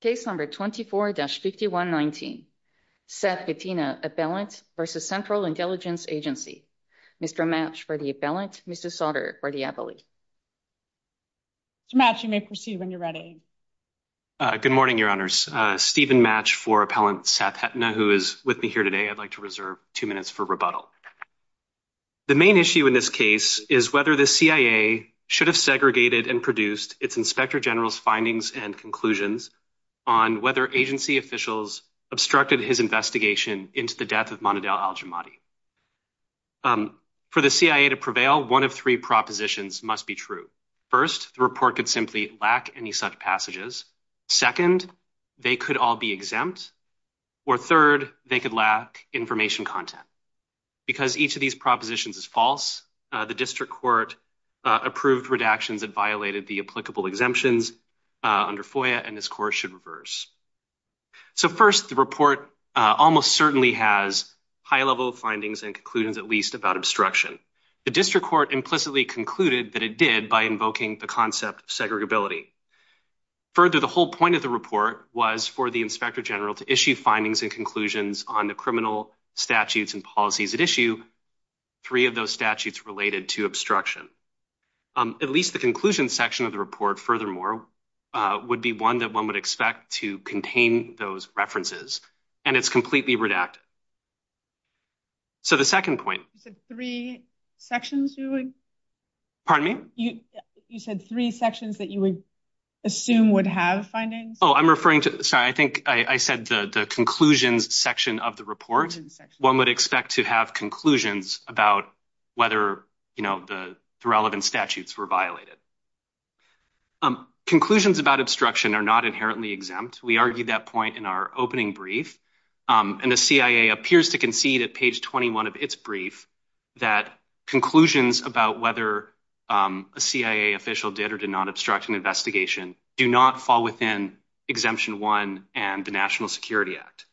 Case number 24-5119. Seth Hettena, Appellant v. Central Intelligence Agency. Mr. Matsch for the Appellant, Mrs. Sautter for the Appellant. Mr. Matsch, you may proceed when you're ready. Good morning, Your Honors. Stephen Matsch for Appellant Seth Hettena, who is with me here today. I'd like to reserve two minutes for rebuttal. The main issue in this case is whether the CIA should have segregated and produced its Inspector General's findings and conclusions on whether agency officials obstructed his investigation into the death of Manodel Al-Jamadi. For the CIA to prevail, one of three propositions must be true. First, the report could simply lack any such passages. Second, they could all be exempt. Or third, they could lack information content. Because each of these propositions is false, the District Court approved redactions that violated the applicable exemptions under FOIA, and this course should reverse. So first, the report almost certainly has high-level findings and conclusions, at least, about obstruction. The District Court implicitly concluded that it did by invoking the concept of segregability. Further, the whole point of the report was for the Inspector General to issue findings and conclusions on the criminal statutes and policies at issue, three of those statutes related to obstruction. At least the conclusion section of the report, furthermore, would be one that one would expect to contain those references, and it's completely redacted. So the second point. You said three sections that you would assume would have findings? Oh, I'm referring to, sorry, I think I said the conclusions section of the report. One would expect to have conclusions about whether, you know, the relevant statutes were violated. Conclusions about obstruction are not inherently exempt. We argued that point in our opening brief, and the CIA appears to concede at page 21 of its brief that conclusions about whether a CIA official did or did not obstruct an investigation do not fall within Exemption 1 and the National Security Act.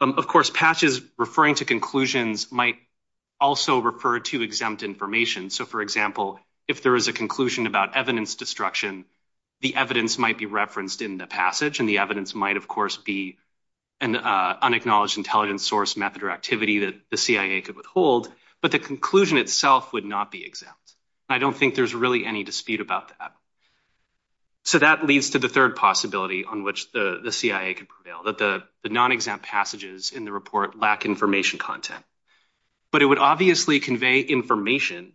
Of course, patches referring to conclusions might also refer to exempt information. So, for example, if there is a conclusion about evidence destruction, the evidence might be referenced in the passage, and the evidence might, of course, be an unacknowledged intelligence source method or activity that the CIA could withhold, but the conclusion itself would not be exempt. I don't think there's really any dispute about that. So that leads to the third possibility on which the CIA could prevail, that the non-exempt passages in the report lack information content, but it would obviously convey information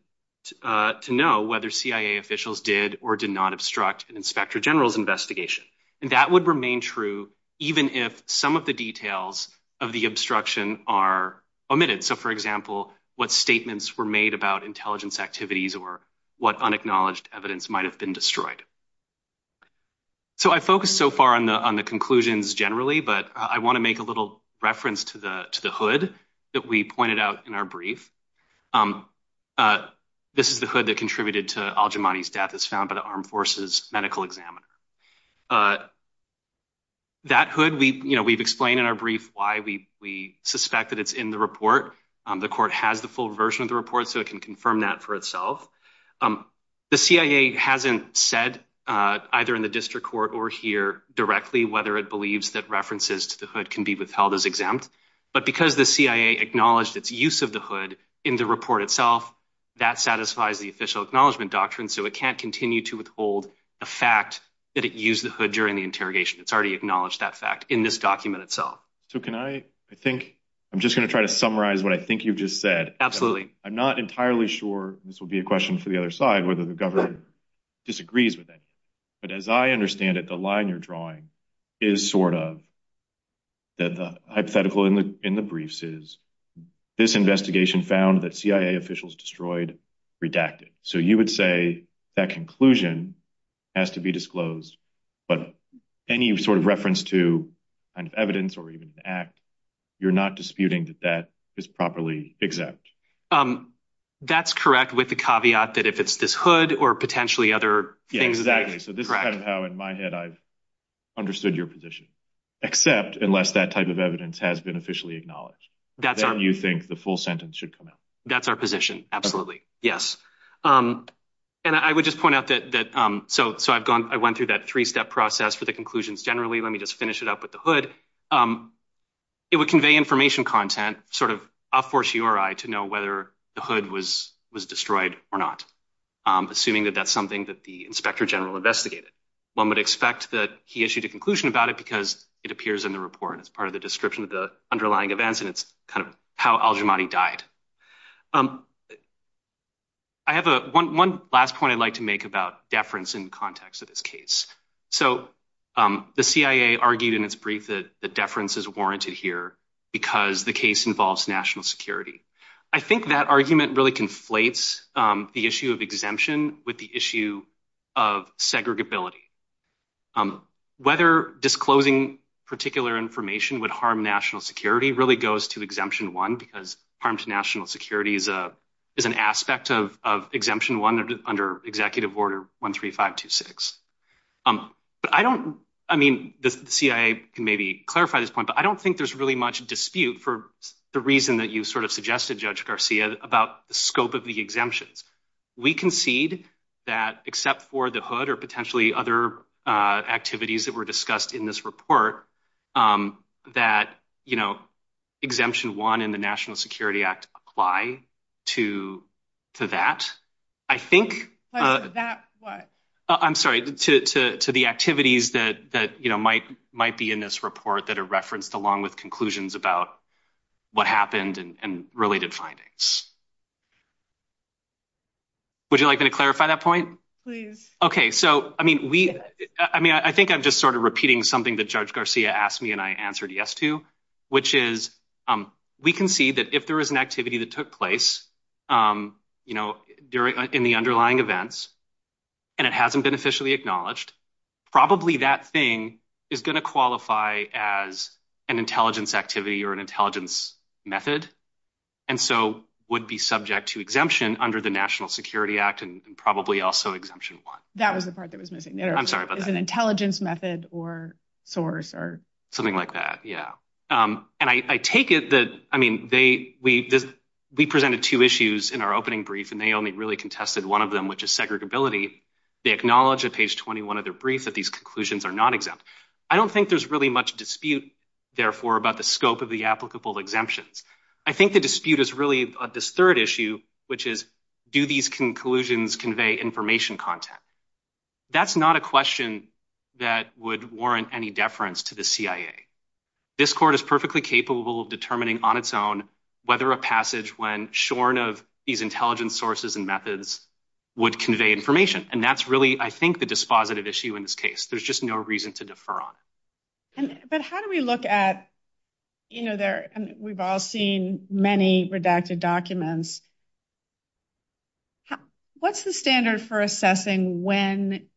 to know whether CIA officials did or did not obstruct an inspector general's investigation, and that would remain true even if some of the details of the obstruction are omitted. So, for example, what statements were made about intelligence activities or what unacknowledged evidence might have been destroyed. So I focused so far on the on the conclusions generally, but I want to make a little reference to the to the hood that we pointed out in our brief. This is the hood that contributed to al-Jamani's death as found by the armed forces medical examiner. That hood, we, you know, we've explained in our brief why we we suspect that it's in the report. The court has the full version of the report, so it can confirm that for itself. The CIA hasn't said either in the district court or here directly whether it believes that references to the hood can be withheld as exempt. But because the CIA acknowledged its use of the hood in the report itself, that satisfies the official acknowledgement doctrine. So it can't continue to withhold the fact that it used the hood during the interrogation. It's already acknowledged that fact in this document itself. So can I I think I'm just going to try to summarize what I think you've just said. Absolutely. I'm not entirely sure this will be a question for the other side, whether the government disagrees with that. But as I understand it, the line you're drawing is sort of that the hypothetical in the briefs is this investigation found that CIA officials destroyed, redacted. So you would say that conclusion has to be disclosed, but any sort of reference to evidence or even an act, you're not disputing that that is properly exempt. That's correct with the caveat that if it's this hood or potentially other things. Exactly. So this is kind of how in my head I've understood your position, except unless that type of evidence has been officially acknowledged, that you think the full sentence should come out. That's our position. Absolutely. Yes. And I would just point out that that so so I've gone I went through that three step process for the conclusions. Generally, let me just finish it up with the hood. It would convey information content sort of a fortiori to know whether the hood was was destroyed or not. Assuming that that's something that the inspector general investigated. One would expect that he issued a conclusion about it because it appears in the report as part of the description of the underlying events. And it's kind of how Al-Jamadi died. I have one last point I'd like to make about deference in context of this case. So the CIA argued in its brief that the deference is warranted here because the case involves national security. I think that argument really conflates the issue of exemption with the issue of segregability. Whether disclosing particular information would harm national security really goes to exemption one because harm to national security is a is an aspect of of exemption one under executive order 13526. But I don't I mean, the CIA can maybe clarify this point, but I don't think there's really dispute for the reason that you sort of suggested, Judge Garcia, about the scope of the exemptions. We concede that except for the hood or potentially other activities that were discussed in this report, that, you know, exemption one in the National Security Act apply to to that. I think that I'm sorry to to to the activities that that, you know, might be in this report that are referenced along with conclusions about what happened and related findings. Would you like me to clarify that point? Please. Okay, so I mean, we I mean, I think I'm just sort of repeating something that Judge Garcia asked me and I answered yes to, which is we concede that if there is an activity that took place, you know, during in the underlying events, and it hasn't been officially acknowledged, probably that thing is going to qualify as an intelligence activity or an intelligence method, and so would be subject to exemption under the National Security Act and probably also exemption one. That was the part that was missing. I'm sorry, but it's an intelligence method or source or something like that. Yeah. And I take it that I mean, they we we presented two issues in our opening brief, and they only really contested one of them, which is segregability. They acknowledge at page 21 of their brief that these conclusions are not exempt. I don't think there's really much dispute, therefore, about the scope of the applicable exemptions. I think the dispute is really this third issue, which is do these conclusions convey information content? That's not a question that would warrant any deference to the CIA. This court is perfectly capable of determining on its own whether a shorn of these intelligence sources and methods would convey information, and that's really, I think, the dispositive issue in this case. There's just no reason to defer on it. But how do we look at, you know, we've all seen many redacted documents. What's the standard for assessing when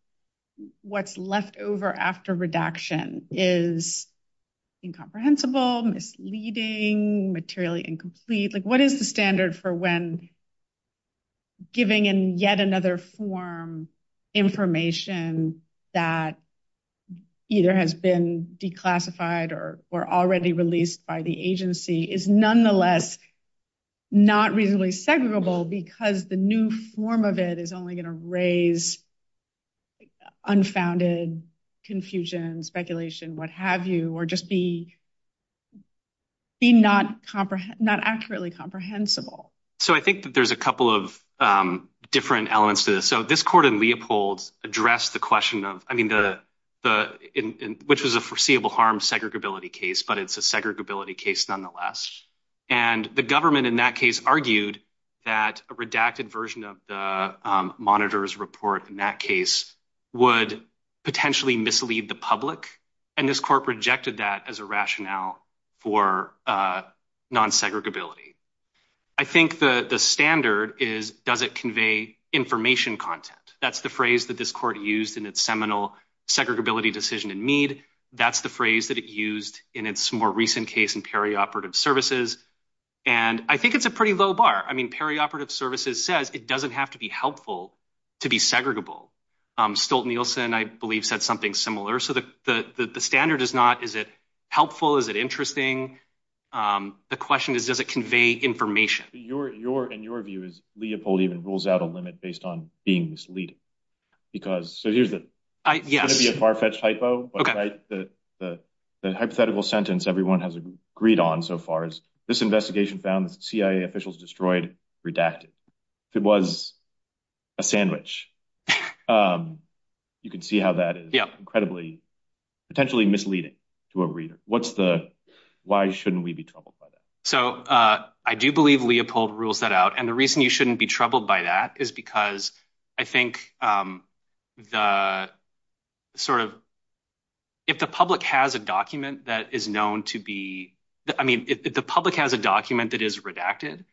what's left over after redaction is incomprehensible, misleading, materially incomplete? What is the standard for when giving in yet another form information that either has been declassified or already released by the agency is nonetheless not reasonably segregable because the new form of it is only going to raise unfounded confusion, speculation, what have you, or just be not accurately comprehensible? So I think that there's a couple of different elements to this. So this court in Leopold addressed the question of, I mean, which was a foreseeable harm segregability case, but it's a segregability case nonetheless. And the government in that case argued that a redacted version of the monitor's report in that case would potentially mislead the public, and this court rejected that as a rationale for non-segregability. I think the standard is, does it convey information content? That's the phrase that this court used in its seminal segregability decision in Meade. That's the phrase that it used in its more recent case in perioperative services. And I think it's a pretty low bar. I mean, perioperative services says it doesn't have to be helpful to be segregable. Stolt-Nielsen, I believe, said something similar. So the standard is not, is it helpful? Is it interesting? The question is, does it convey information? In your view, Leopold even rules out a limit based on being misleading. Because, so here's the, it's going to be a far-fetched hypo, but the hypothetical sentence everyone has agreed on so far is, this investigation found the CIA officials destroyed redacted. If it was a sandwich, you can see how that is incredibly, potentially misleading to a reader. What's the, why shouldn't we be troubled by that? So I do believe Leopold rules that out. And the sort of, if the public has a document that is known to be, I mean, if the public has a document that is redacted,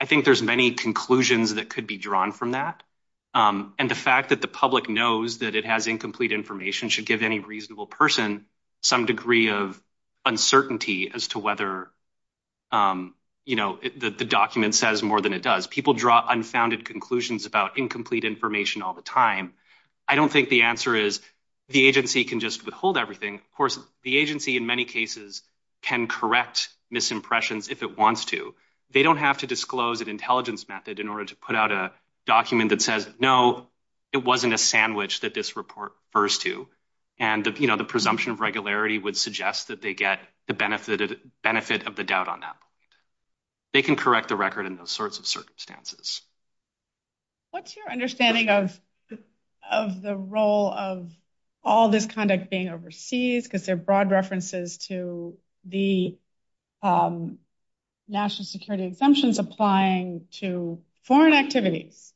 I think there's many conclusions that could be drawn from that. And the fact that the public knows that it has incomplete information should give any reasonable person some degree of uncertainty as to whether, you know, the document says more than it does. People draw unfounded conclusions about incomplete information all the time. I don't think the answer is the agency can just withhold everything. Of course, the agency in many cases can correct misimpressions if it wants to. They don't have to disclose an intelligence method in order to put out a document that says, no, it wasn't a sandwich that this report refers to. And the, you know, the presumption of regularity would suggest that they get the benefit of the doubt on that. They can correct the record in those sorts of circumstances. What's your understanding of, of the role of all this conduct being overseas, because they're broad references to the national security exemptions applying to foreign activities.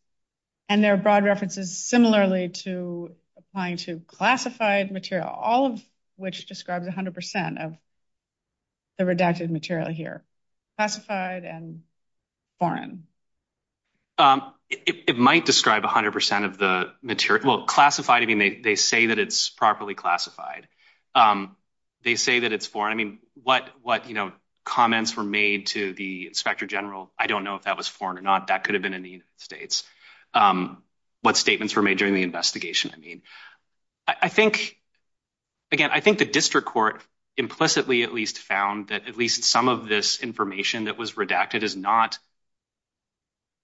And they're broad references similarly to applying to classified material, all of which describes 100% of the redacted material here. Classified and foreign. It might describe 100% of the material. Well, classified, I mean, they say that it's properly classified. They say that it's foreign. I mean, what, what, you know, comments were made to the inspector general, I don't know if that was foreign or not. That could have been in the United States. What statements were made during the investigation? I mean, I think, again, I think the district court implicitly at least found that at least some of this information that was redacted is not,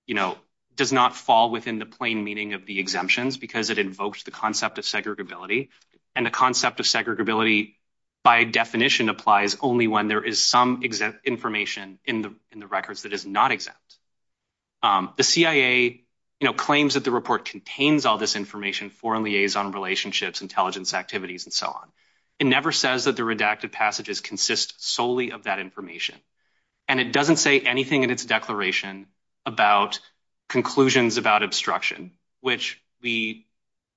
you know, does not fall within the plain meaning of the exemptions because it invokes the concept of segregability. And the concept of segregability by definition applies only when there is some exempt information in the records that is not exempt. The CIA, you know, claims that the report contains all this information, foreign liaison relationships, intelligence activities, and so on. It never says that the redacted passages consist solely of that information. And it doesn't say anything in its declaration about conclusions about obstruction, which we,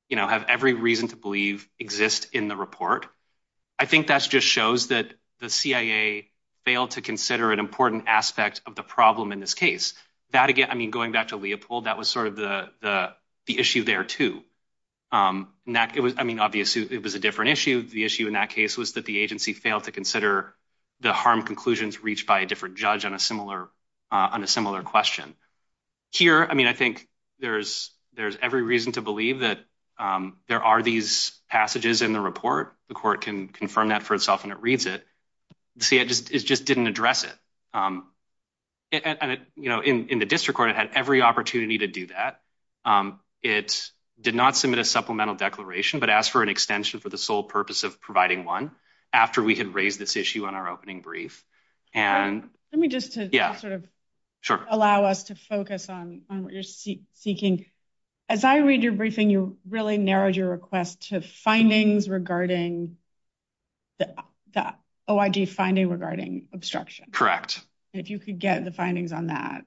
you know, have every reason to believe exist in the report. I think that's just shows that the CIA failed to consider an important aspect of the problem in this case. That again, I mean, going back to Leopold, that was sort of the issue there too. And that it was, I mean, obviously it was a different issue. The issue in that case was that the agency failed to consider the harm conclusions reached by a different judge on a similar, on a similar question. Here, I mean, I think there's every reason to believe that there are these passages in the report. The court can confirm that for itself and it reads it. The CIA just didn't address it. And, you know, in the district court, it had every opportunity to do that. It did not submit a supplemental declaration, but asked for an extension for the sole purpose of providing one after we had raised this issue on our opening brief. Let me just to sort of allow us to focus on what you're seeking. As I read your briefing, you really narrowed your request to findings regarding the OIG finding regarding obstruction. Correct. If you could get the findings on that,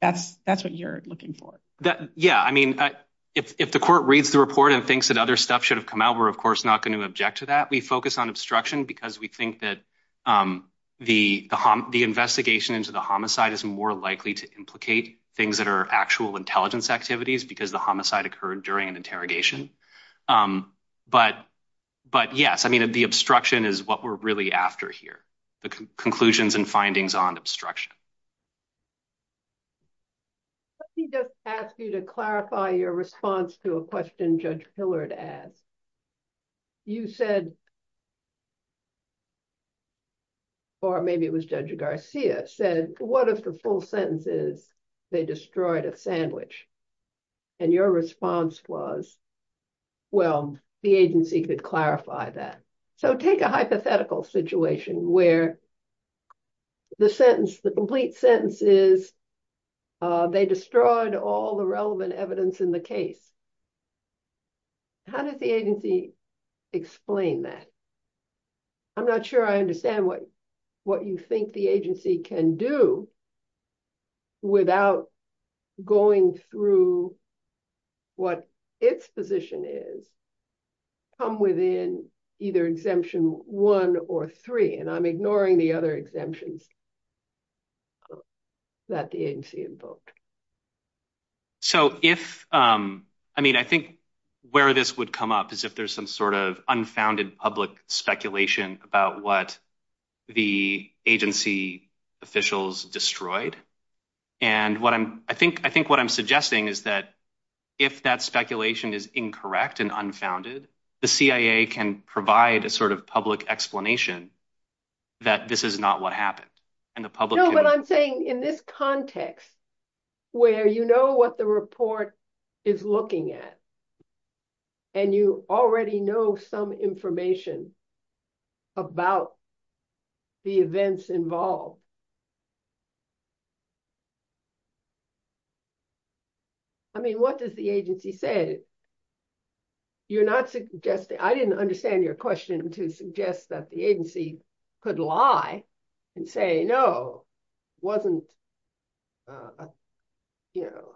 that's what you're looking for. Yeah. I mean, if the court reads the report and thinks that other stuff should have come out, we're of course not going to object to that. We focus on obstruction because we think that the investigation into the homicide is more likely to implicate things that are actual intelligence activities because the homicide occurred during an interrogation. But yes, the obstruction is what we're really after here. The conclusions and findings on obstruction. Let me just ask you to clarify your response to a question Judge Hillard asked. You said, or maybe it was Judge Garcia said, what if the full sentence is they destroyed a sandwich? And your response was, well, the agency could clarify that. So take a hypothetical situation where the sentence, the complete sentence is they destroyed all the relevant evidence in the case. How did the agency explain that? I'm not sure I understand what you think the agency can do without going through what its position is come within either exemption one or three, and I'm ignoring the other exemptions that the agency invoked. So if, I mean, I think where this would come up is if there's some sort of unfounded public speculation about what the agency officials destroyed. And I think what I'm suggesting is that if that speculation is incorrect and unfounded, the CIA can provide a sort of public explanation that this is not what happened. No, but I'm saying in this context where you know what the report is looking at and you already know some information about the events involved. I mean, what does the agency say? You're not suggesting, I didn't understand your question to suggest that the agency could lie and say, no, wasn't a, you know,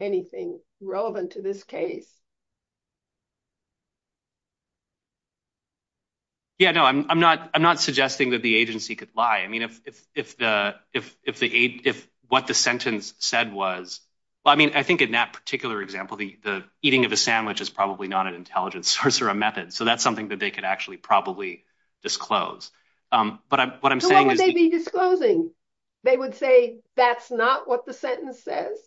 anything relevant to this case? Yeah, no, I'm not, I'm not suggesting that the agency could lie. I mean, if, if, if the, if, if the, if what the sentence said was, well, I mean, I think in that particular example, the, the eating of a sandwich is probably not an intelligence source or a method. So that's that they could actually probably disclose. But what I'm saying is they would say, that's not what the sentence says.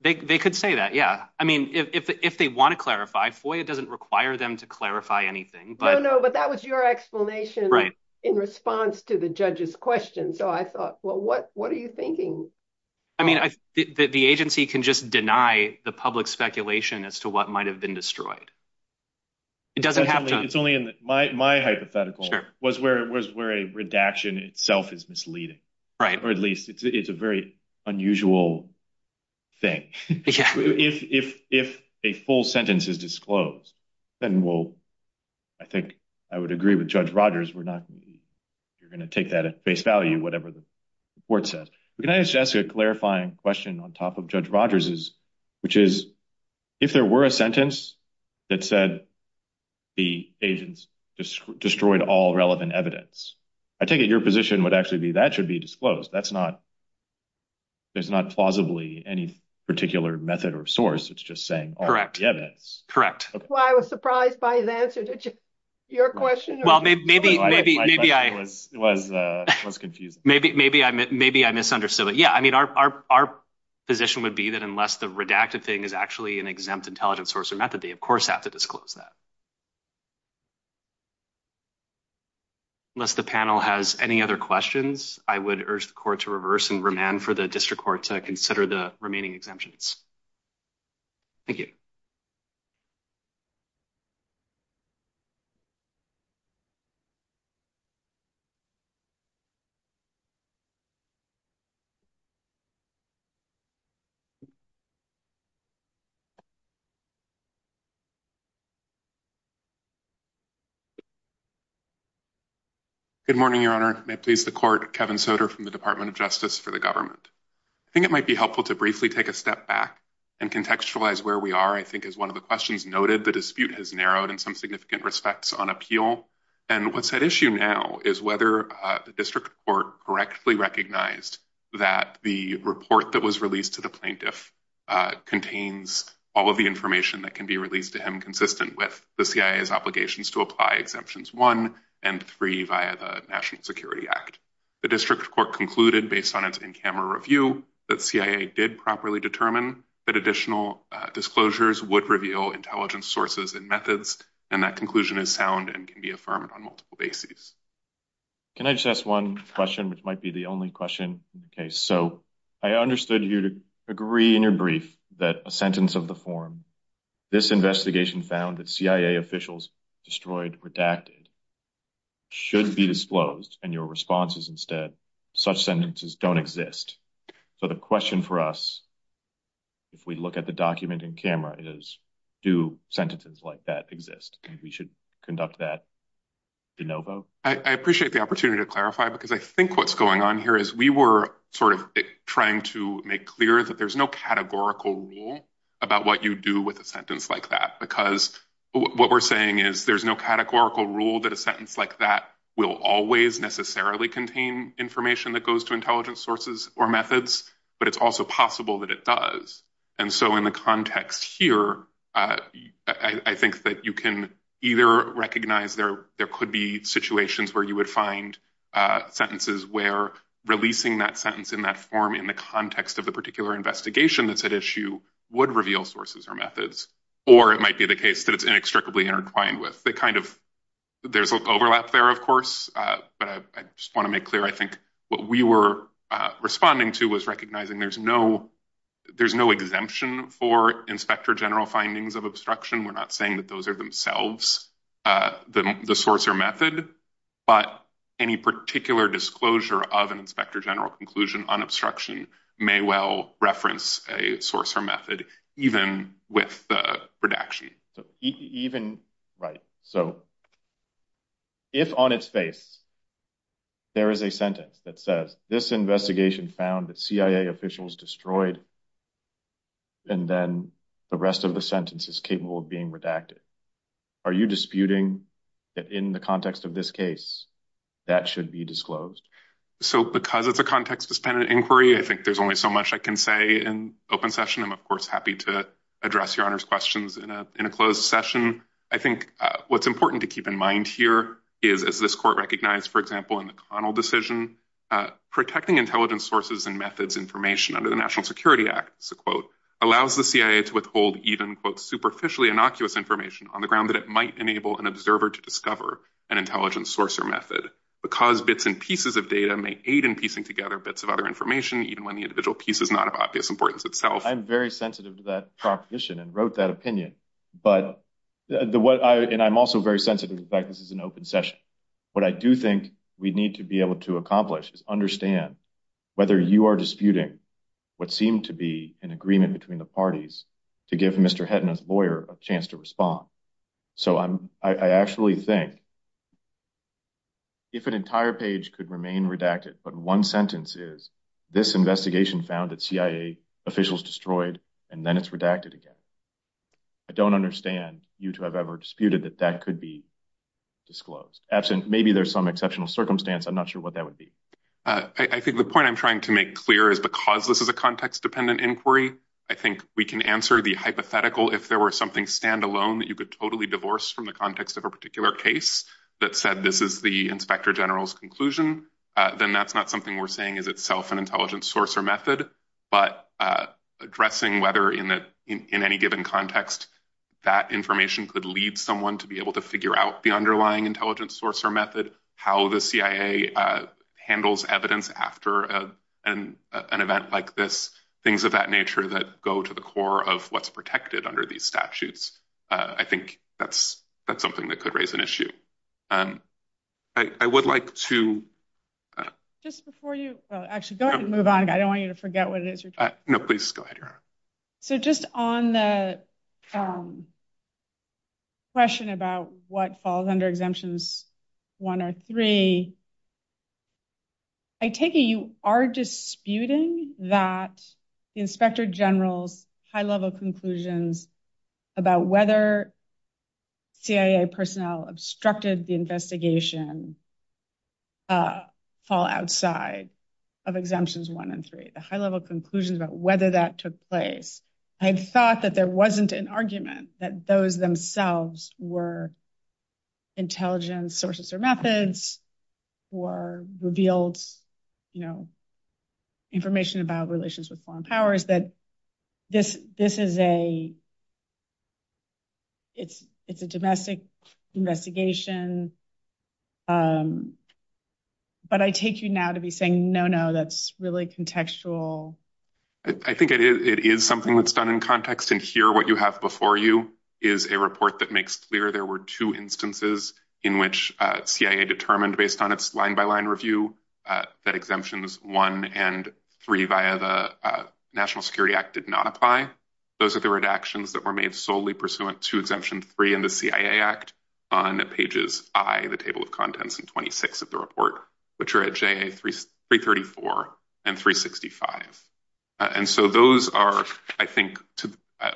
They could say that. Yeah. I mean, if, if they want to clarify, FOIA doesn't require them to clarify anything. No, no. But that was your explanation in response to the judge's question. So I thought, well, what, what are you thinking? I mean, the agency can just deny the public speculation as to what might've been destroyed. It doesn't have to. It's only in my, my hypothetical was where it was, where a redaction itself is misleading. Right. Or at least it's, it's a very unusual thing. If, if, if a full sentence is disclosed, then we'll, I think I would agree with judge Rogers. We're not going to be, you're going to take that at face value, whatever the court says. But can I just ask a clarifying question on top of judge Rogers is, which is if there were a that said the agents destroyed all relevant evidence, I take it your position would actually be that should be disclosed. That's not, there's not plausibly any particular method or source. It's just saying, correct. Yeah. That's correct. I was surprised by his answer. Your question. Well, maybe, maybe, maybe I was, was, was confusing. Maybe, maybe I, maybe I misunderstood it. Yeah. I mean, our, our, our position would be that unless the redacted thing is actually an exempt intelligence source or method, they of course have to disclose that. Unless the panel has any other questions, I would urge the court to reverse and remand for the district court to consider the remaining exemptions. Thank you. Good morning, your honor, please. The court Kevin Soter from the department of justice for the government. I think it might be helpful to briefly take a step back and contextualize where we are. I think is one of the questions noted. The dispute has narrowed in some significant respects on appeal. And what's that issue now is whether the district court correctly recognized that the report that was released to the plaintiff contained evidence that the plaintiff had all of the information that can be released to him consistent with the CIA's obligations to apply exemptions one and three via the national security act. The district court concluded based on its in-camera review that CIA did properly determine that additional disclosures would reveal intelligence sources and methods. And that conclusion is sound and can be affirmed on multiple bases. Can I just ask one question, which might be the only question. Okay. So I understood you to agree in your brief that a sentence of the form, this investigation found that CIA officials destroyed redacted should be disclosed and your responses instead, such sentences don't exist. So the question for us, if we look at the document in camera is do sentences like that exist and we should conduct that de novo. I appreciate the opportunity to clarify, because I think what's going on here is we were sort of trying to make clear that there's no categorical rule about what you do with a sentence like that, because what we're saying is there's no categorical rule that a sentence like that will always necessarily contain information that goes to intelligence sources or methods, but it's also possible that it does. And so in the context here, I think that you can either recognize there could be situations where you would find sentences where releasing that sentence in that form in the context of the particular investigation that's at issue would reveal sources or methods, or it might be the case that it's inextricably intertwined with. There's an overlap there, of course, but I just want to make clear I think what we were responding to was recognizing there's no exemption for inspector general findings of obstruction. We're not saying that those are themselves the source or method, but any particular disclosure of an inspector general conclusion on obstruction may well reference a source or method, even with the redaction. Right. So if on its face there is a sentence that says this investigation found that CIA officials destroyed, and then the rest of the sentence is capable of being redacted, are you disputing that in the context of this case that should be disclosed? So because it's a context suspended inquiry, I think there's only so much I can say in open session. I'm, of course, happy to address your honor's questions in a closed session. I think what's important to keep in mind here is, as this court recognized, for example, in the Connell decision, protecting intelligence sources and methods information under the National Security Act, it's a quote, allows the CIA to withhold even quote superficially innocuous information on the ground that it might enable an observer to discover an intelligence source or method because bits and pieces of data may aid in piecing together bits of other information, even when the individual piece is not of obvious importance itself. I'm very sensitive to that proposition and wrote that opinion, but the what I and I'm also very sensitive to the fact this is an open session. What I do think we need to be able to accomplish is understand whether you are disputing what seemed to be an agreement between the parties to give Mr. Hedna's lawyer a chance to respond. So I'm I actually think if an entire page could remain redacted, but one sentence is this investigation found that CIA officials destroyed and then it's redacted again. I don't understand you to have ever disputed that that could be disclosed absent. Maybe there's some exceptional circumstance. I'm not sure what that would be. I think the point I'm trying to make clear is because this is a context dependent inquiry, I think we can answer the hypothetical if there were something standalone that you could totally divorce from the context of a particular case that said this is the inspector general's conclusion, then that's not something we're saying is itself an intelligence source method. But addressing whether in any given context that information could lead someone to be able to figure out the underlying intelligence source or method, how the CIA handles evidence after an event like this, things of that nature that go to the core of what's protected under these statutes. I think that's that's something that could raise an issue. I would like to. Just before you actually go ahead and move on, I don't want you to forget what it is. So just on the question about what falls under exemptions one or three. I take it you are disputing that the inspector general's high level conclusions about whether CIA personnel obstructed the investigation fall outside of exemptions one and three, the high level conclusions about whether that took place. I thought that there wasn't an argument that those themselves were intelligence sources or methods or revealed information about relations with foreign powers that this this is a. It's it's a domestic investigation. But I take you now to be saying, no, no, that's really contextual. I think it is something that's done in context and hear what you have before you is a report that makes clear there were two instances in which CIA determined based on its line by line review that exemptions one and three via the National Security Act did not apply. Those are the redactions that were made solely pursuant to exemption three in the CIA Act on pages I, the table of contents and twenty six of the report, which are at three thirty four and three sixty five. And so those are, I think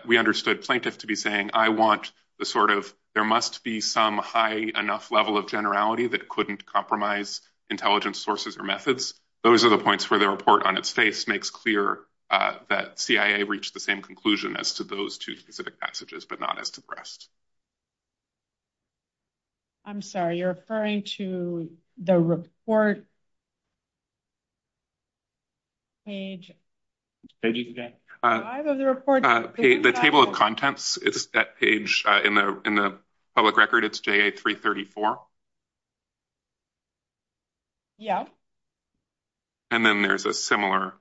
we understood plaintiff to be saying I want the sort of there must be some high enough level of generality that couldn't compromise intelligence sources or methods. Those are the points where the report on its face makes clear that CIA reached the same conclusion as to those two specific passages, but not as depressed. I'm sorry, you're referring to the report. Page. Page. The table of contents, it's that page in the in the public record, it's three thirty four. Yeah. And then there's a similar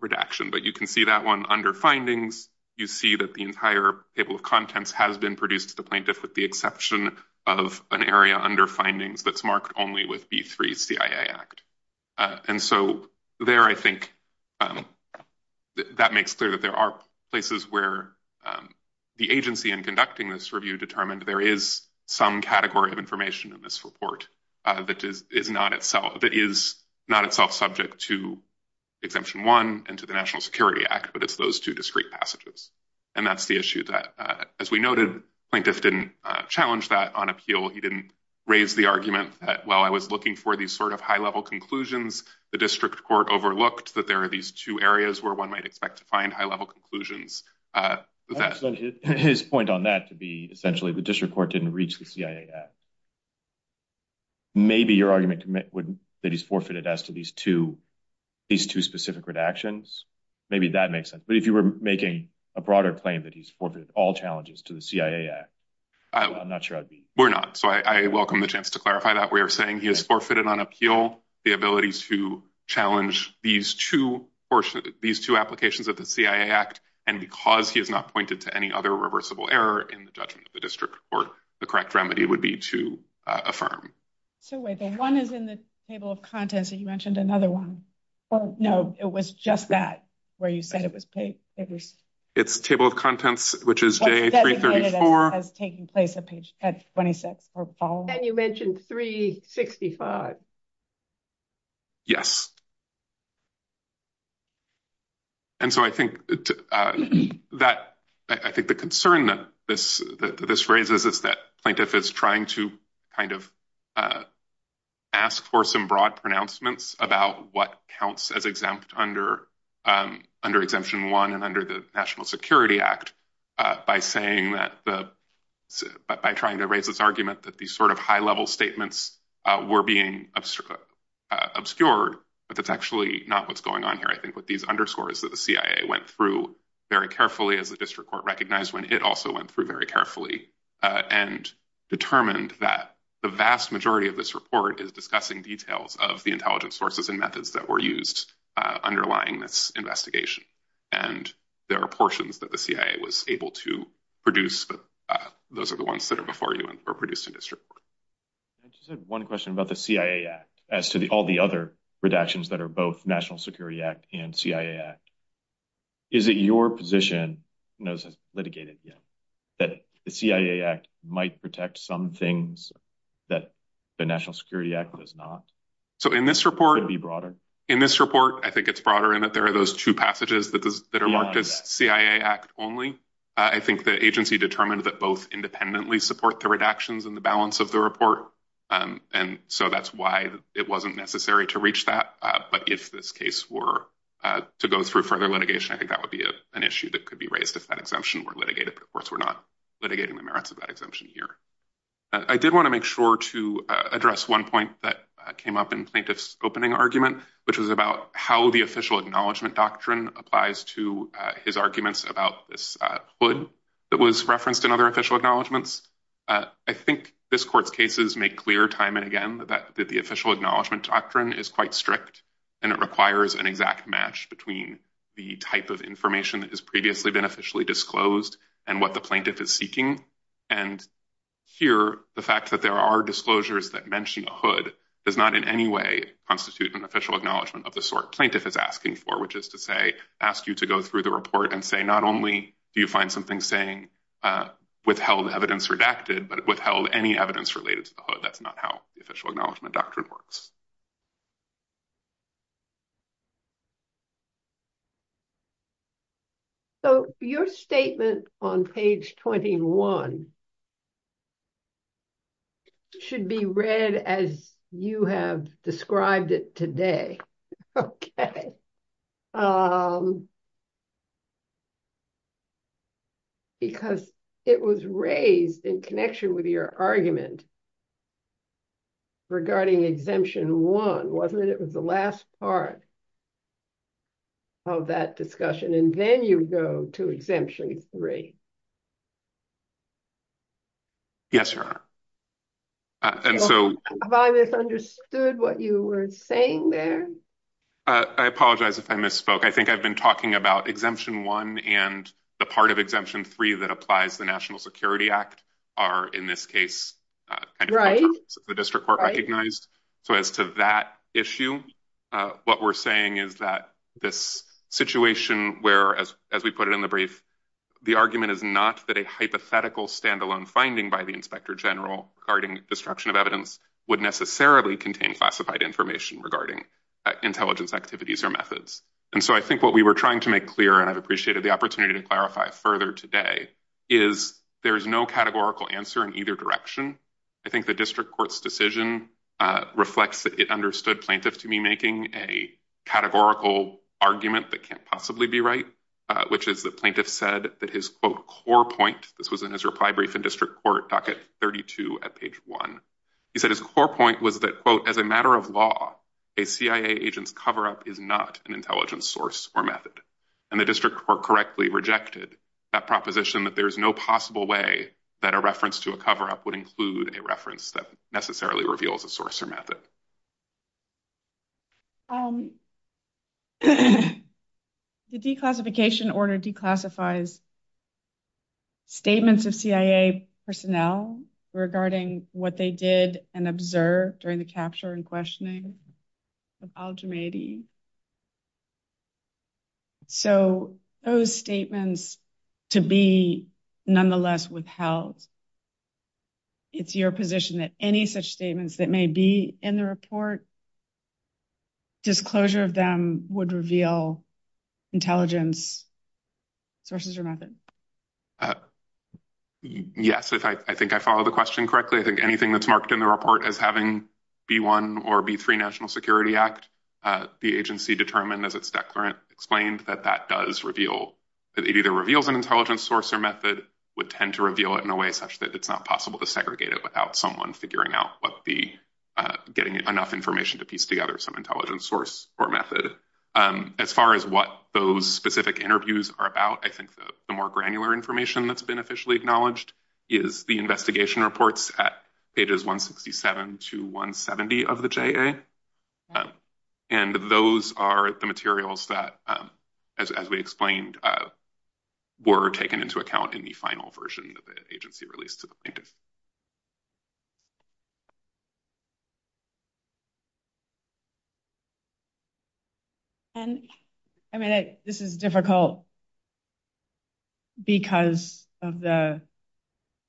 redaction, but you can see that one under findings. You see that the entire table of contents has been produced to the plaintiff, with the exception of an area under findings that's marked only with B3 CIA Act. And so there, I think that makes clear that there are places where the agency in conducting this review determined there is some category of information in this report that is not itself that is not itself subject to exemption one and to the National Security Act. But it's those two discrete passages. And that's the issue that, as we noted, plaintiff didn't challenge that on appeal. He didn't raise the argument that, well, I was looking for these sort of high level conclusions. The district court overlooked that there are these two areas where one might expect to find high level conclusions. His point on that to be essentially the district court didn't reach the CIA. Maybe your argument that he's forfeited as to these two, these two specific redactions, maybe that makes sense. But if you were making a broader claim that he's forfeited all challenges to the CIA, I'm not sure I'd be. We're not. So I welcome the chance to clarify that we are saying he has forfeited on appeal the ability to challenge these two portions, these two applications of the CIA Act. And because he has not pointed to any other reversible error in the judgment of the district court, the correct remedy would be to affirm. So wait, the one is in the table of contents that you mentioned another one. No, it was just that where you said it was paid. It's table of contents, which is day three, 34, has taken place at 26. And you mentioned 365. Yes. And so I think that I think the concern that this that this raises is that plaintiff is trying to kind of ask for some broad pronouncements about what counts as exempt under under exemption one under the National Security Act, by saying that the by trying to raise this argument that these sort of high level statements were being obstructed, obscured, but that's actually not what's going on here. I think what these underscores that the CIA went through very carefully as the district court recognized when it also went through very carefully, and determined that the vast majority of this report is discussing details of the intelligence sources and methods that were used underlying this investigation. And there are portions that the CIA was able to produce, but those are the ones that are before you and were produced in district court. I just had one question about the CIA Act, as to the all the other redactions that are both National Security Act and CIA Act. Is it your position knows has litigated yet, that the CIA Act might protect some things that the National Security Act does not. So in this report be In this report, I think it's broader in that there are those two passages that are marked as CIA Act only. I think the agency determined that both independently support the redactions and the balance of the report. And so that's why it wasn't necessary to reach that. But if this case were to go through further litigation, I think that would be an issue that could be raised if that exemption were litigated. But of course, we're not litigating the merits of that exemption here. I did want to make sure to address one point that came up in plaintiff's opening argument, which was about how the official acknowledgement doctrine applies to his arguments about this hood that was referenced in other official acknowledgements. I think this court's cases make clear time and again that the official acknowledgement doctrine is quite strict, and it requires an exact match between the type of information that has previously been disclosed and what the plaintiff is seeking. And here, the fact that there are disclosures that mention a hood does not in any way constitute an official acknowledgement of the sort plaintiff is asking for, which is to say, ask you to go through the report and say not only do you find something saying withheld evidence redacted but withheld any evidence related to the hood. That's on page 21. It should be read as you have described it today. Okay. Because it was raised in connection with your argument regarding exemption one, wasn't it? It was the last part of that discussion. And then you go to exemption three. Yes, Your Honor. And so... Have I misunderstood what you were saying there? I apologize if I misspoke. I think I've been talking about exemption one and the part of exemption three that applies to the National Security Act are, in this case, the district recognized. So as to that issue, what we're saying is that this situation where, as we put it in the brief, the argument is not that a hypothetical standalone finding by the inspector general regarding destruction of evidence would necessarily contain classified information regarding intelligence activities or methods. And so I think what we were trying to make clear, and I've appreciated the opportunity to clarify further today, is there is no categorical answer in either direction. I think the district court's decision reflects that it understood plaintiff to be making a categorical argument that can't possibly be right, which is the plaintiff said that his, quote, core point, this was in his reply brief in district court, docket 32 at page one. He said his core point was that, quote, as a matter of law, a CIA agent's cover-up is not an intelligence source or method. And the district court correctly rejected that proposition that there is no possible way that a reference to a cover-up would include a reference that necessarily reveals a source or method. The declassification order declassifies statements of CIA personnel regarding what they did and observed during the capture and questioning of al-Jumaidi. So those statements to be nonetheless withheld, it's your position that any such statements that may be in the report, disclosure of them would reveal intelligence sources or method? Yes, I think I followed the question correctly. I think anything that's marked in the report as B1 or B3 National Security Act, the agency determined as its declarant explained that that does reveal, that it either reveals an intelligence source or method would tend to reveal it in a way such that it's not possible to segregate it without someone figuring out what the, getting enough information to piece together some intelligence source or method. As far as what those specific interviews are about, I think the more granular information that's been officially acknowledged is the investigation reports at pages 167 to 170 of the JA. And those are the materials that, as we explained, were taken into account in the final version that the agency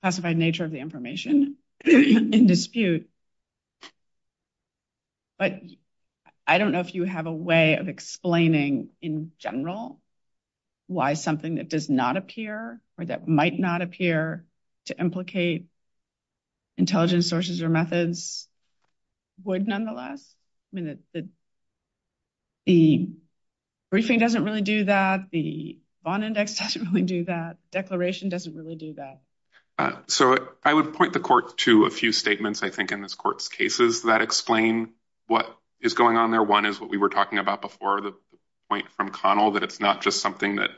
classified nature of the information in dispute. But I don't know if you have a way of explaining in general why something that does not appear or that might not appear to implicate intelligence sources or methods would nonetheless. I mean, the briefing doesn't really do that. The bond index doesn't really do that. Declaration doesn't really do that. So I would point the court to a few statements, I think, in this court's cases that explain what is going on there. One is what we were talking about before the point from Connell, that it's not just something that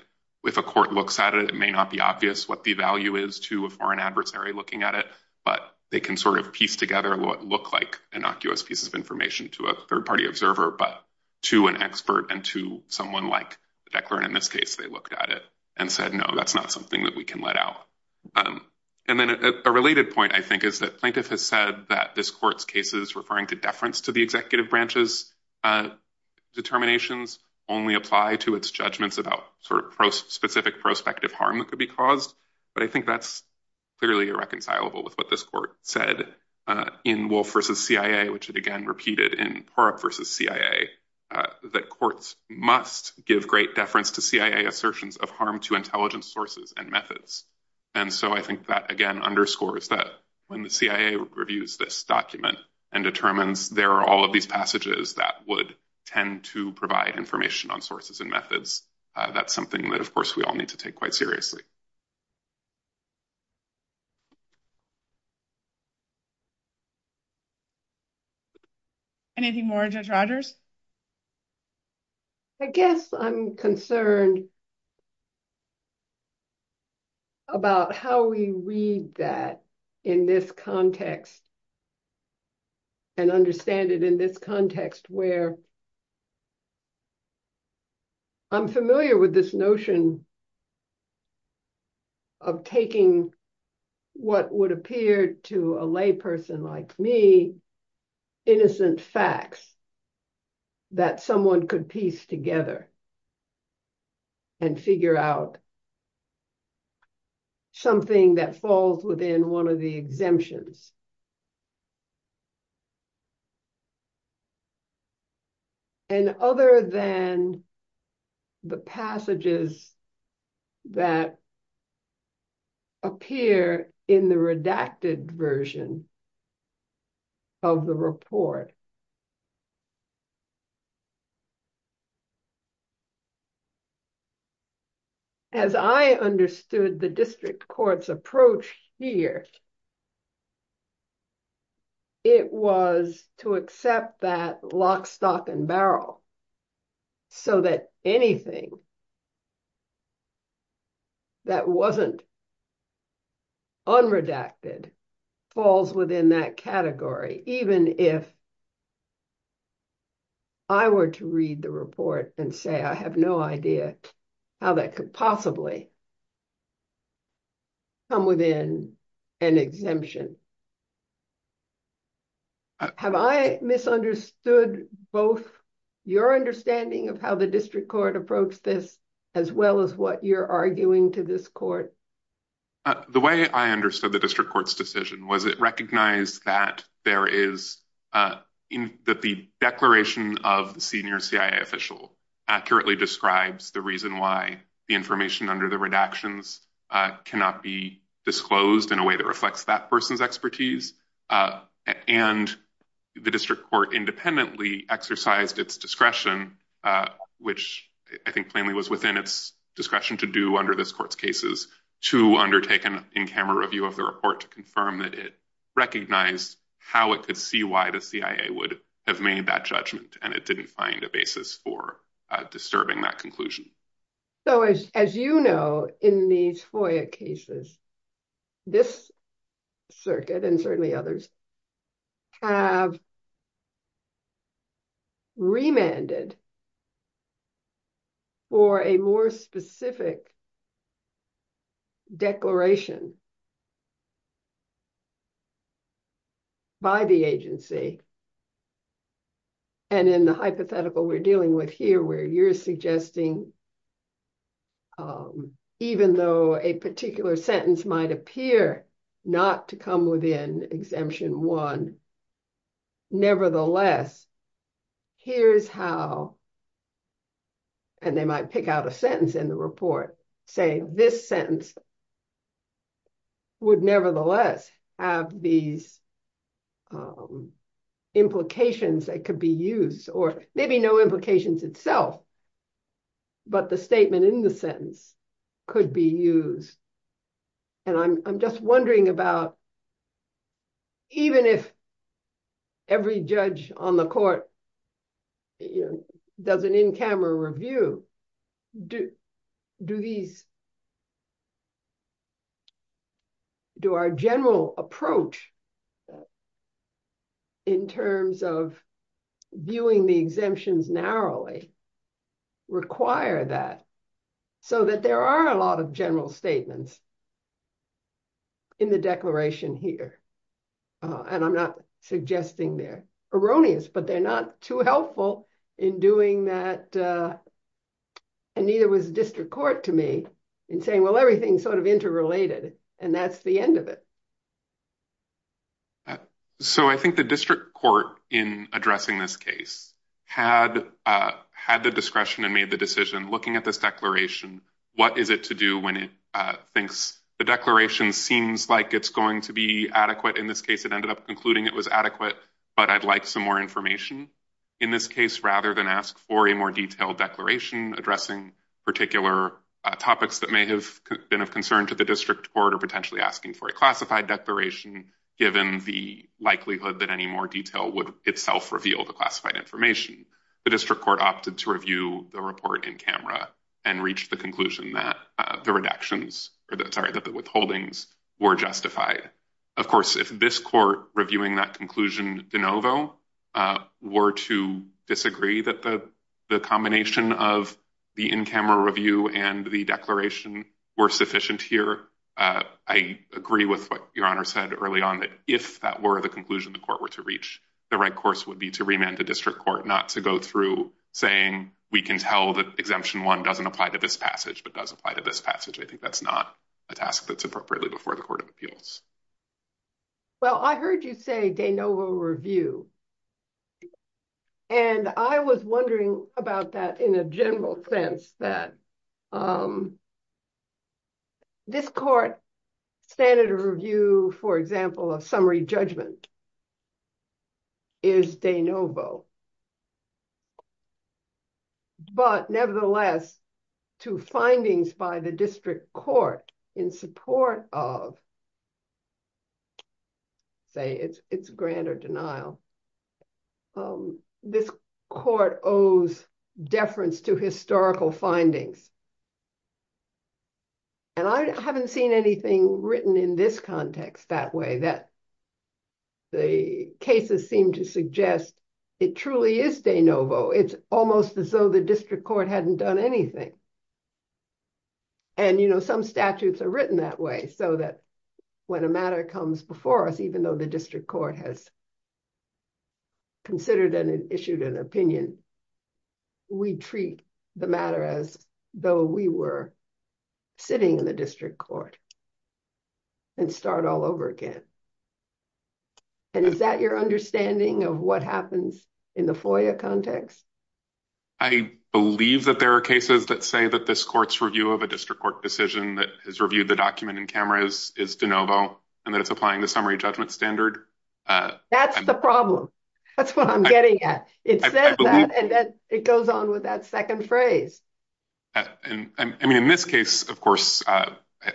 if a court looks at it, it may not be obvious what the value is to a foreign adversary looking at it, but they can sort of piece together what look like innocuous pieces of information to a third party observer, but to an expert and to someone like the declarant in this case, they looked at it and said, no, that's not something that we can let out. And then a related point, I think, is that plaintiff has said that this court's cases referring to deference to the executive branch's determinations only apply to its judgments about sort of specific prospective harm that could be caused. But I think that's clearly irreconcilable with what this court said in Wolf v. CIA, which it again repeated in Purup v. CIA, that courts must give great deference to CIA assertions of harm to intelligence sources and methods. And so I think that, again, underscores that when the CIA reviews this document and determines there are all of these passages that would tend to provide information on sources and methods, that's something that, of course, we all need to take quite seriously. Anything more, Judge Rogers? I guess I'm concerned about how we read that in this context and understand it in this context where I'm familiar with this notion of taking what would appear to a lay person like me, innocent facts that someone could piece together and figure out something that falls within one of the exemptions. And other than the passages that appear in the redacted version of the report, as I understood the district court's approach here, it was to accept that lock, stock, and barrel, so that anything that wasn't unredacted falls within that category, even if I were to read the report and say, I have no idea how that could possibly come within an exemption. Have I misunderstood both your understanding of how the district court approached this as well as what you're arguing to this court? The way I understood the district court's decision was it recognized that the declaration of the senior CIA official accurately describes the information under the redactions cannot be disclosed in a way that reflects that person's expertise. And the district court independently exercised its discretion, which I think plainly was within its discretion to do under this court's cases, to undertake an in-camera review of the report to confirm that it recognized how it could see why the CIA would have made that judgment, and it didn't find a basis for disturbing that conclusion. So as you know, in these FOIA cases, this circuit, and certainly others, have remanded for a more specific declaration by the agency. And in the hypothetical we're dealing with here, where you're suggesting even though a particular sentence might appear not to come within Exemption 1, nevertheless, here's how, and they might pick out a sentence in the report, saying this sentence would nevertheless have these implications that could be used, or maybe no implications itself, but the statement in the sentence could be used. And I'm just wondering about even if every judge on the court does an in-camera review, do our general approach in terms of viewing the exemptions narrowly require that, so that there are a lot of general statements in the declaration here? And I'm not suggesting they're erroneous, but they're not too helpful in doing that, and neither was district court to me in saying, well, everything's sort of interrelated, and that's the end of it. So I think the district court in addressing this case had the discretion and made the decision, looking at this declaration, what is it to do when thinks the declaration seems like it's going to be adequate. In this case, it ended up concluding it was adequate, but I'd like some more information. In this case, rather than ask for a more detailed declaration addressing particular topics that may have been of concern to the district court, or potentially asking for a classified declaration, given the likelihood that any more detail would itself reveal the classified information, the district court opted to review the report in in-camera and reached the conclusion that the reductions, sorry, that the withholdings were justified. Of course, if this court reviewing that conclusion de novo were to disagree that the combination of the in-camera review and the declaration were sufficient here, I agree with what Your Honor said early on, that if that were the conclusion the court were to reach, the right be to remand the district court not to go through saying we can tell that exemption one doesn't apply to this passage but does apply to this passage. I think that's not a task that's appropriately before the Court of Appeals. Well, I heard you say de novo review, and I was wondering about that in a general sense, that this court standard of review, for example, of summary judgment is de novo. But nevertheless, to findings by the district court in support of, let's say it's grant or denial, this court owes deference to historical findings. And I haven't seen anything written in this context that way, that the cases seem to suggest it truly is de novo. It's almost as though the district court hadn't done anything. And, you know, some statutes are written that way so that when a matter comes before us, even though the district court has considered and issued an opinion, we treat the matter as though we were sitting in the district court and start all over again. And is that your understanding of what happens in the FOIA context? I believe that there are cases that say that this court's review of a district court decision that has reviewed the document in cameras is de novo and that it's applying the summary judgment standard. That's the problem. That's what I'm getting at. It says that and then it goes on with that second phrase. I mean, in this case, of course, I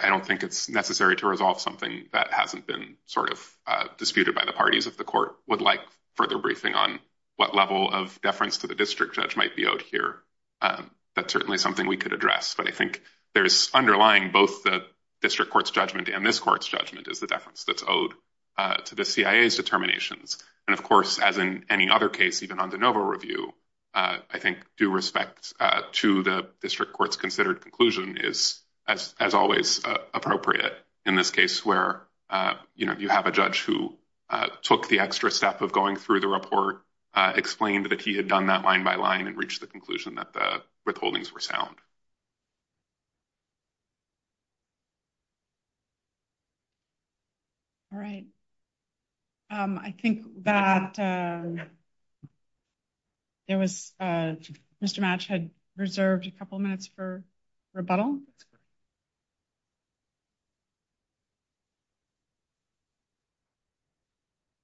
don't think it's necessary to resolve something that hasn't been sort of disputed by the parties of the court would like further briefing on what level of deference to the district judge might be out here. That's certainly something we could address. But I think there's underlying both the district court's judgment and this court's judgment is the deference that's owed to the CIA's determinations. And, of course, as in any other case, even on de novo review, I think due respect to the district court's considered conclusion is as always appropriate in this case where, you know, you have a judge who took the extra step of going through the report, explained that he had done that line by line and reached the conclusion that the withholdings were sound. All right. I think that there was Mr. Match had reserved a couple minutes for rebuttal.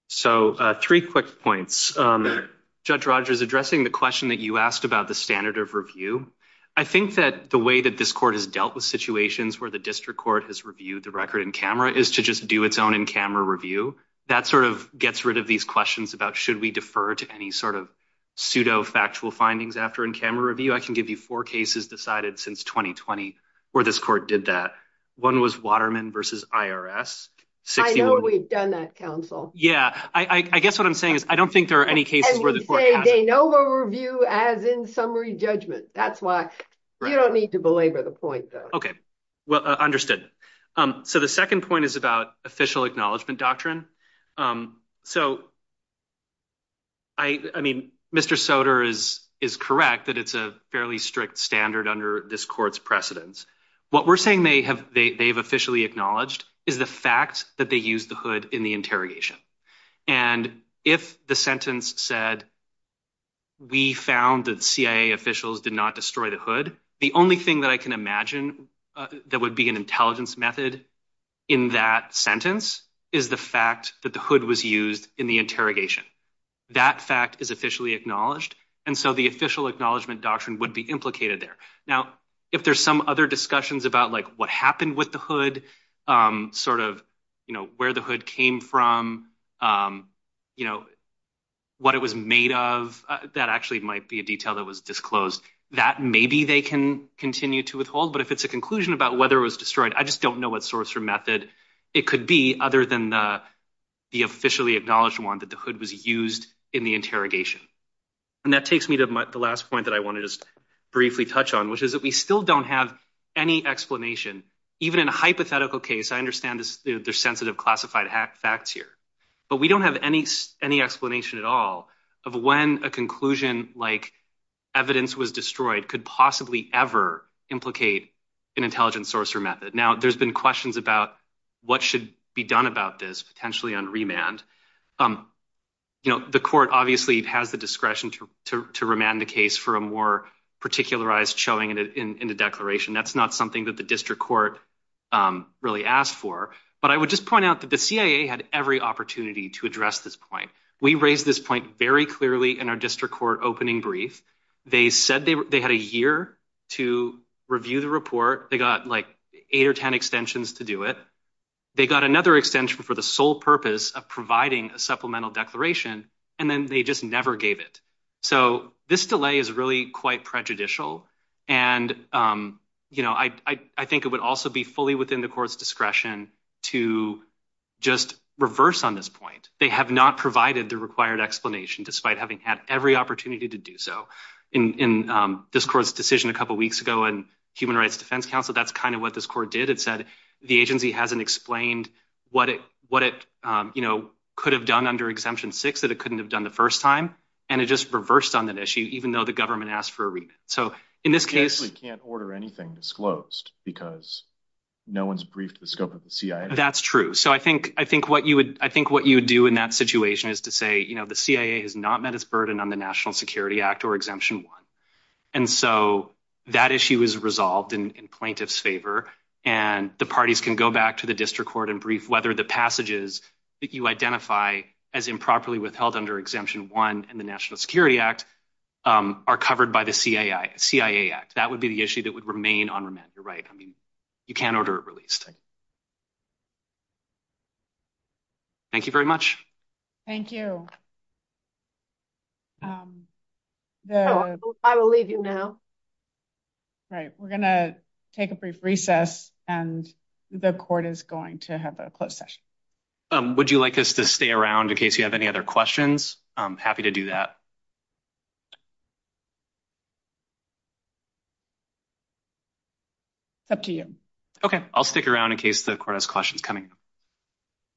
So three quick points. Judge Rogers addressing the question that you asked about the standard of review. I think that the way that this court has dealt with situations where the district court has reviewed the record in camera is to just do its own in camera review. That sort of gets rid of these questions about should we defer to any sort of pseudo factual findings after in camera review? I can give you four cases decided since 2020 where this court did that. One was Waterman versus IRS. I know we've done that, counsel. Yeah. I guess what I'm saying is I don't think there are any cases where the court hasn't. And you say de novo review as in summary judgment. That's why you don't need to belabor the point, though. Understood. So the second point is about official acknowledgement doctrine. So I mean, Mr. Soter is is correct that it's a fairly strict standard under this court's precedence. What we're saying they have they've officially acknowledged is the fact that they use the hood in the interrogation. And if the sentence said. We found that CIA officials did not destroy the hood. The only thing that I can imagine that would be an intelligence method in that sentence is the fact that the hood was used in the interrogation. That fact is officially acknowledged. And so the official acknowledgement doctrine would be implicated there. Now, if there's some other discussions about what happened with the hood, sort of where the hood came from, you know, what it was made of, that actually might be a detail that was disclosed that maybe they can continue to withhold. But if it's a conclusion about whether it was destroyed, I just don't know what source or method it could be other than the officially acknowledged one that the hood was used in the interrogation. And that takes me to the last point that I want to just briefly touch on, which is that we still don't have any explanation, even in a hypothetical case. I understand there's sensitive classified facts here, but we don't have any explanation at all of when a conclusion like evidence was destroyed could possibly ever implicate an intelligence source or method. Now, there's been questions about what should be done about this potentially on remand. You know, the court obviously has the discretion to remand the case for a more particularized showing in the declaration. That's not something that the district court really asked for. But I would just point out that the CIA had every opportunity to address this point. We raised this point very clearly in our district court opening brief. They said they had a year to review the report. They got like eight or ten extensions to do it. They got another extension for the sole purpose of providing a supplemental declaration, and then they just gave it. So this delay is really quite prejudicial. And, you know, I think it would also be fully within the court's discretion to just reverse on this point. They have not provided the required explanation despite having had every opportunity to do so. In this court's decision a couple weeks ago in Human Rights Defense Council, that's kind of what this court did. It said the agency hasn't explained what it, you know, could have done under Exemption 6 that it couldn't have done the first time, and it just reversed on that issue even though the government asked for a remand. So in this case... You actually can't order anything disclosed because no one's briefed the scope of the CIA. That's true. So I think what you would do in that situation is to say, you know, the CIA has not met its burden on the National Security Act or Exemption 1. And so that issue is resolved in plaintiff's favor, and the parties can go back to the district court and brief whether the passages that you identify as improperly withheld under Exemption 1 and the National Security Act are covered by the CIA Act. That would be the issue that would remain on remand. You're right. I mean, you can't order it released. Thank you very much. Thank you. I will leave you now. All right. We're going to take a brief recess, and the court is going to have a closed session. Would you like us to stay around in case you have any other questions? I'm happy to do that. It's up to you. Okay. I'll stick around in case the court has questions coming in.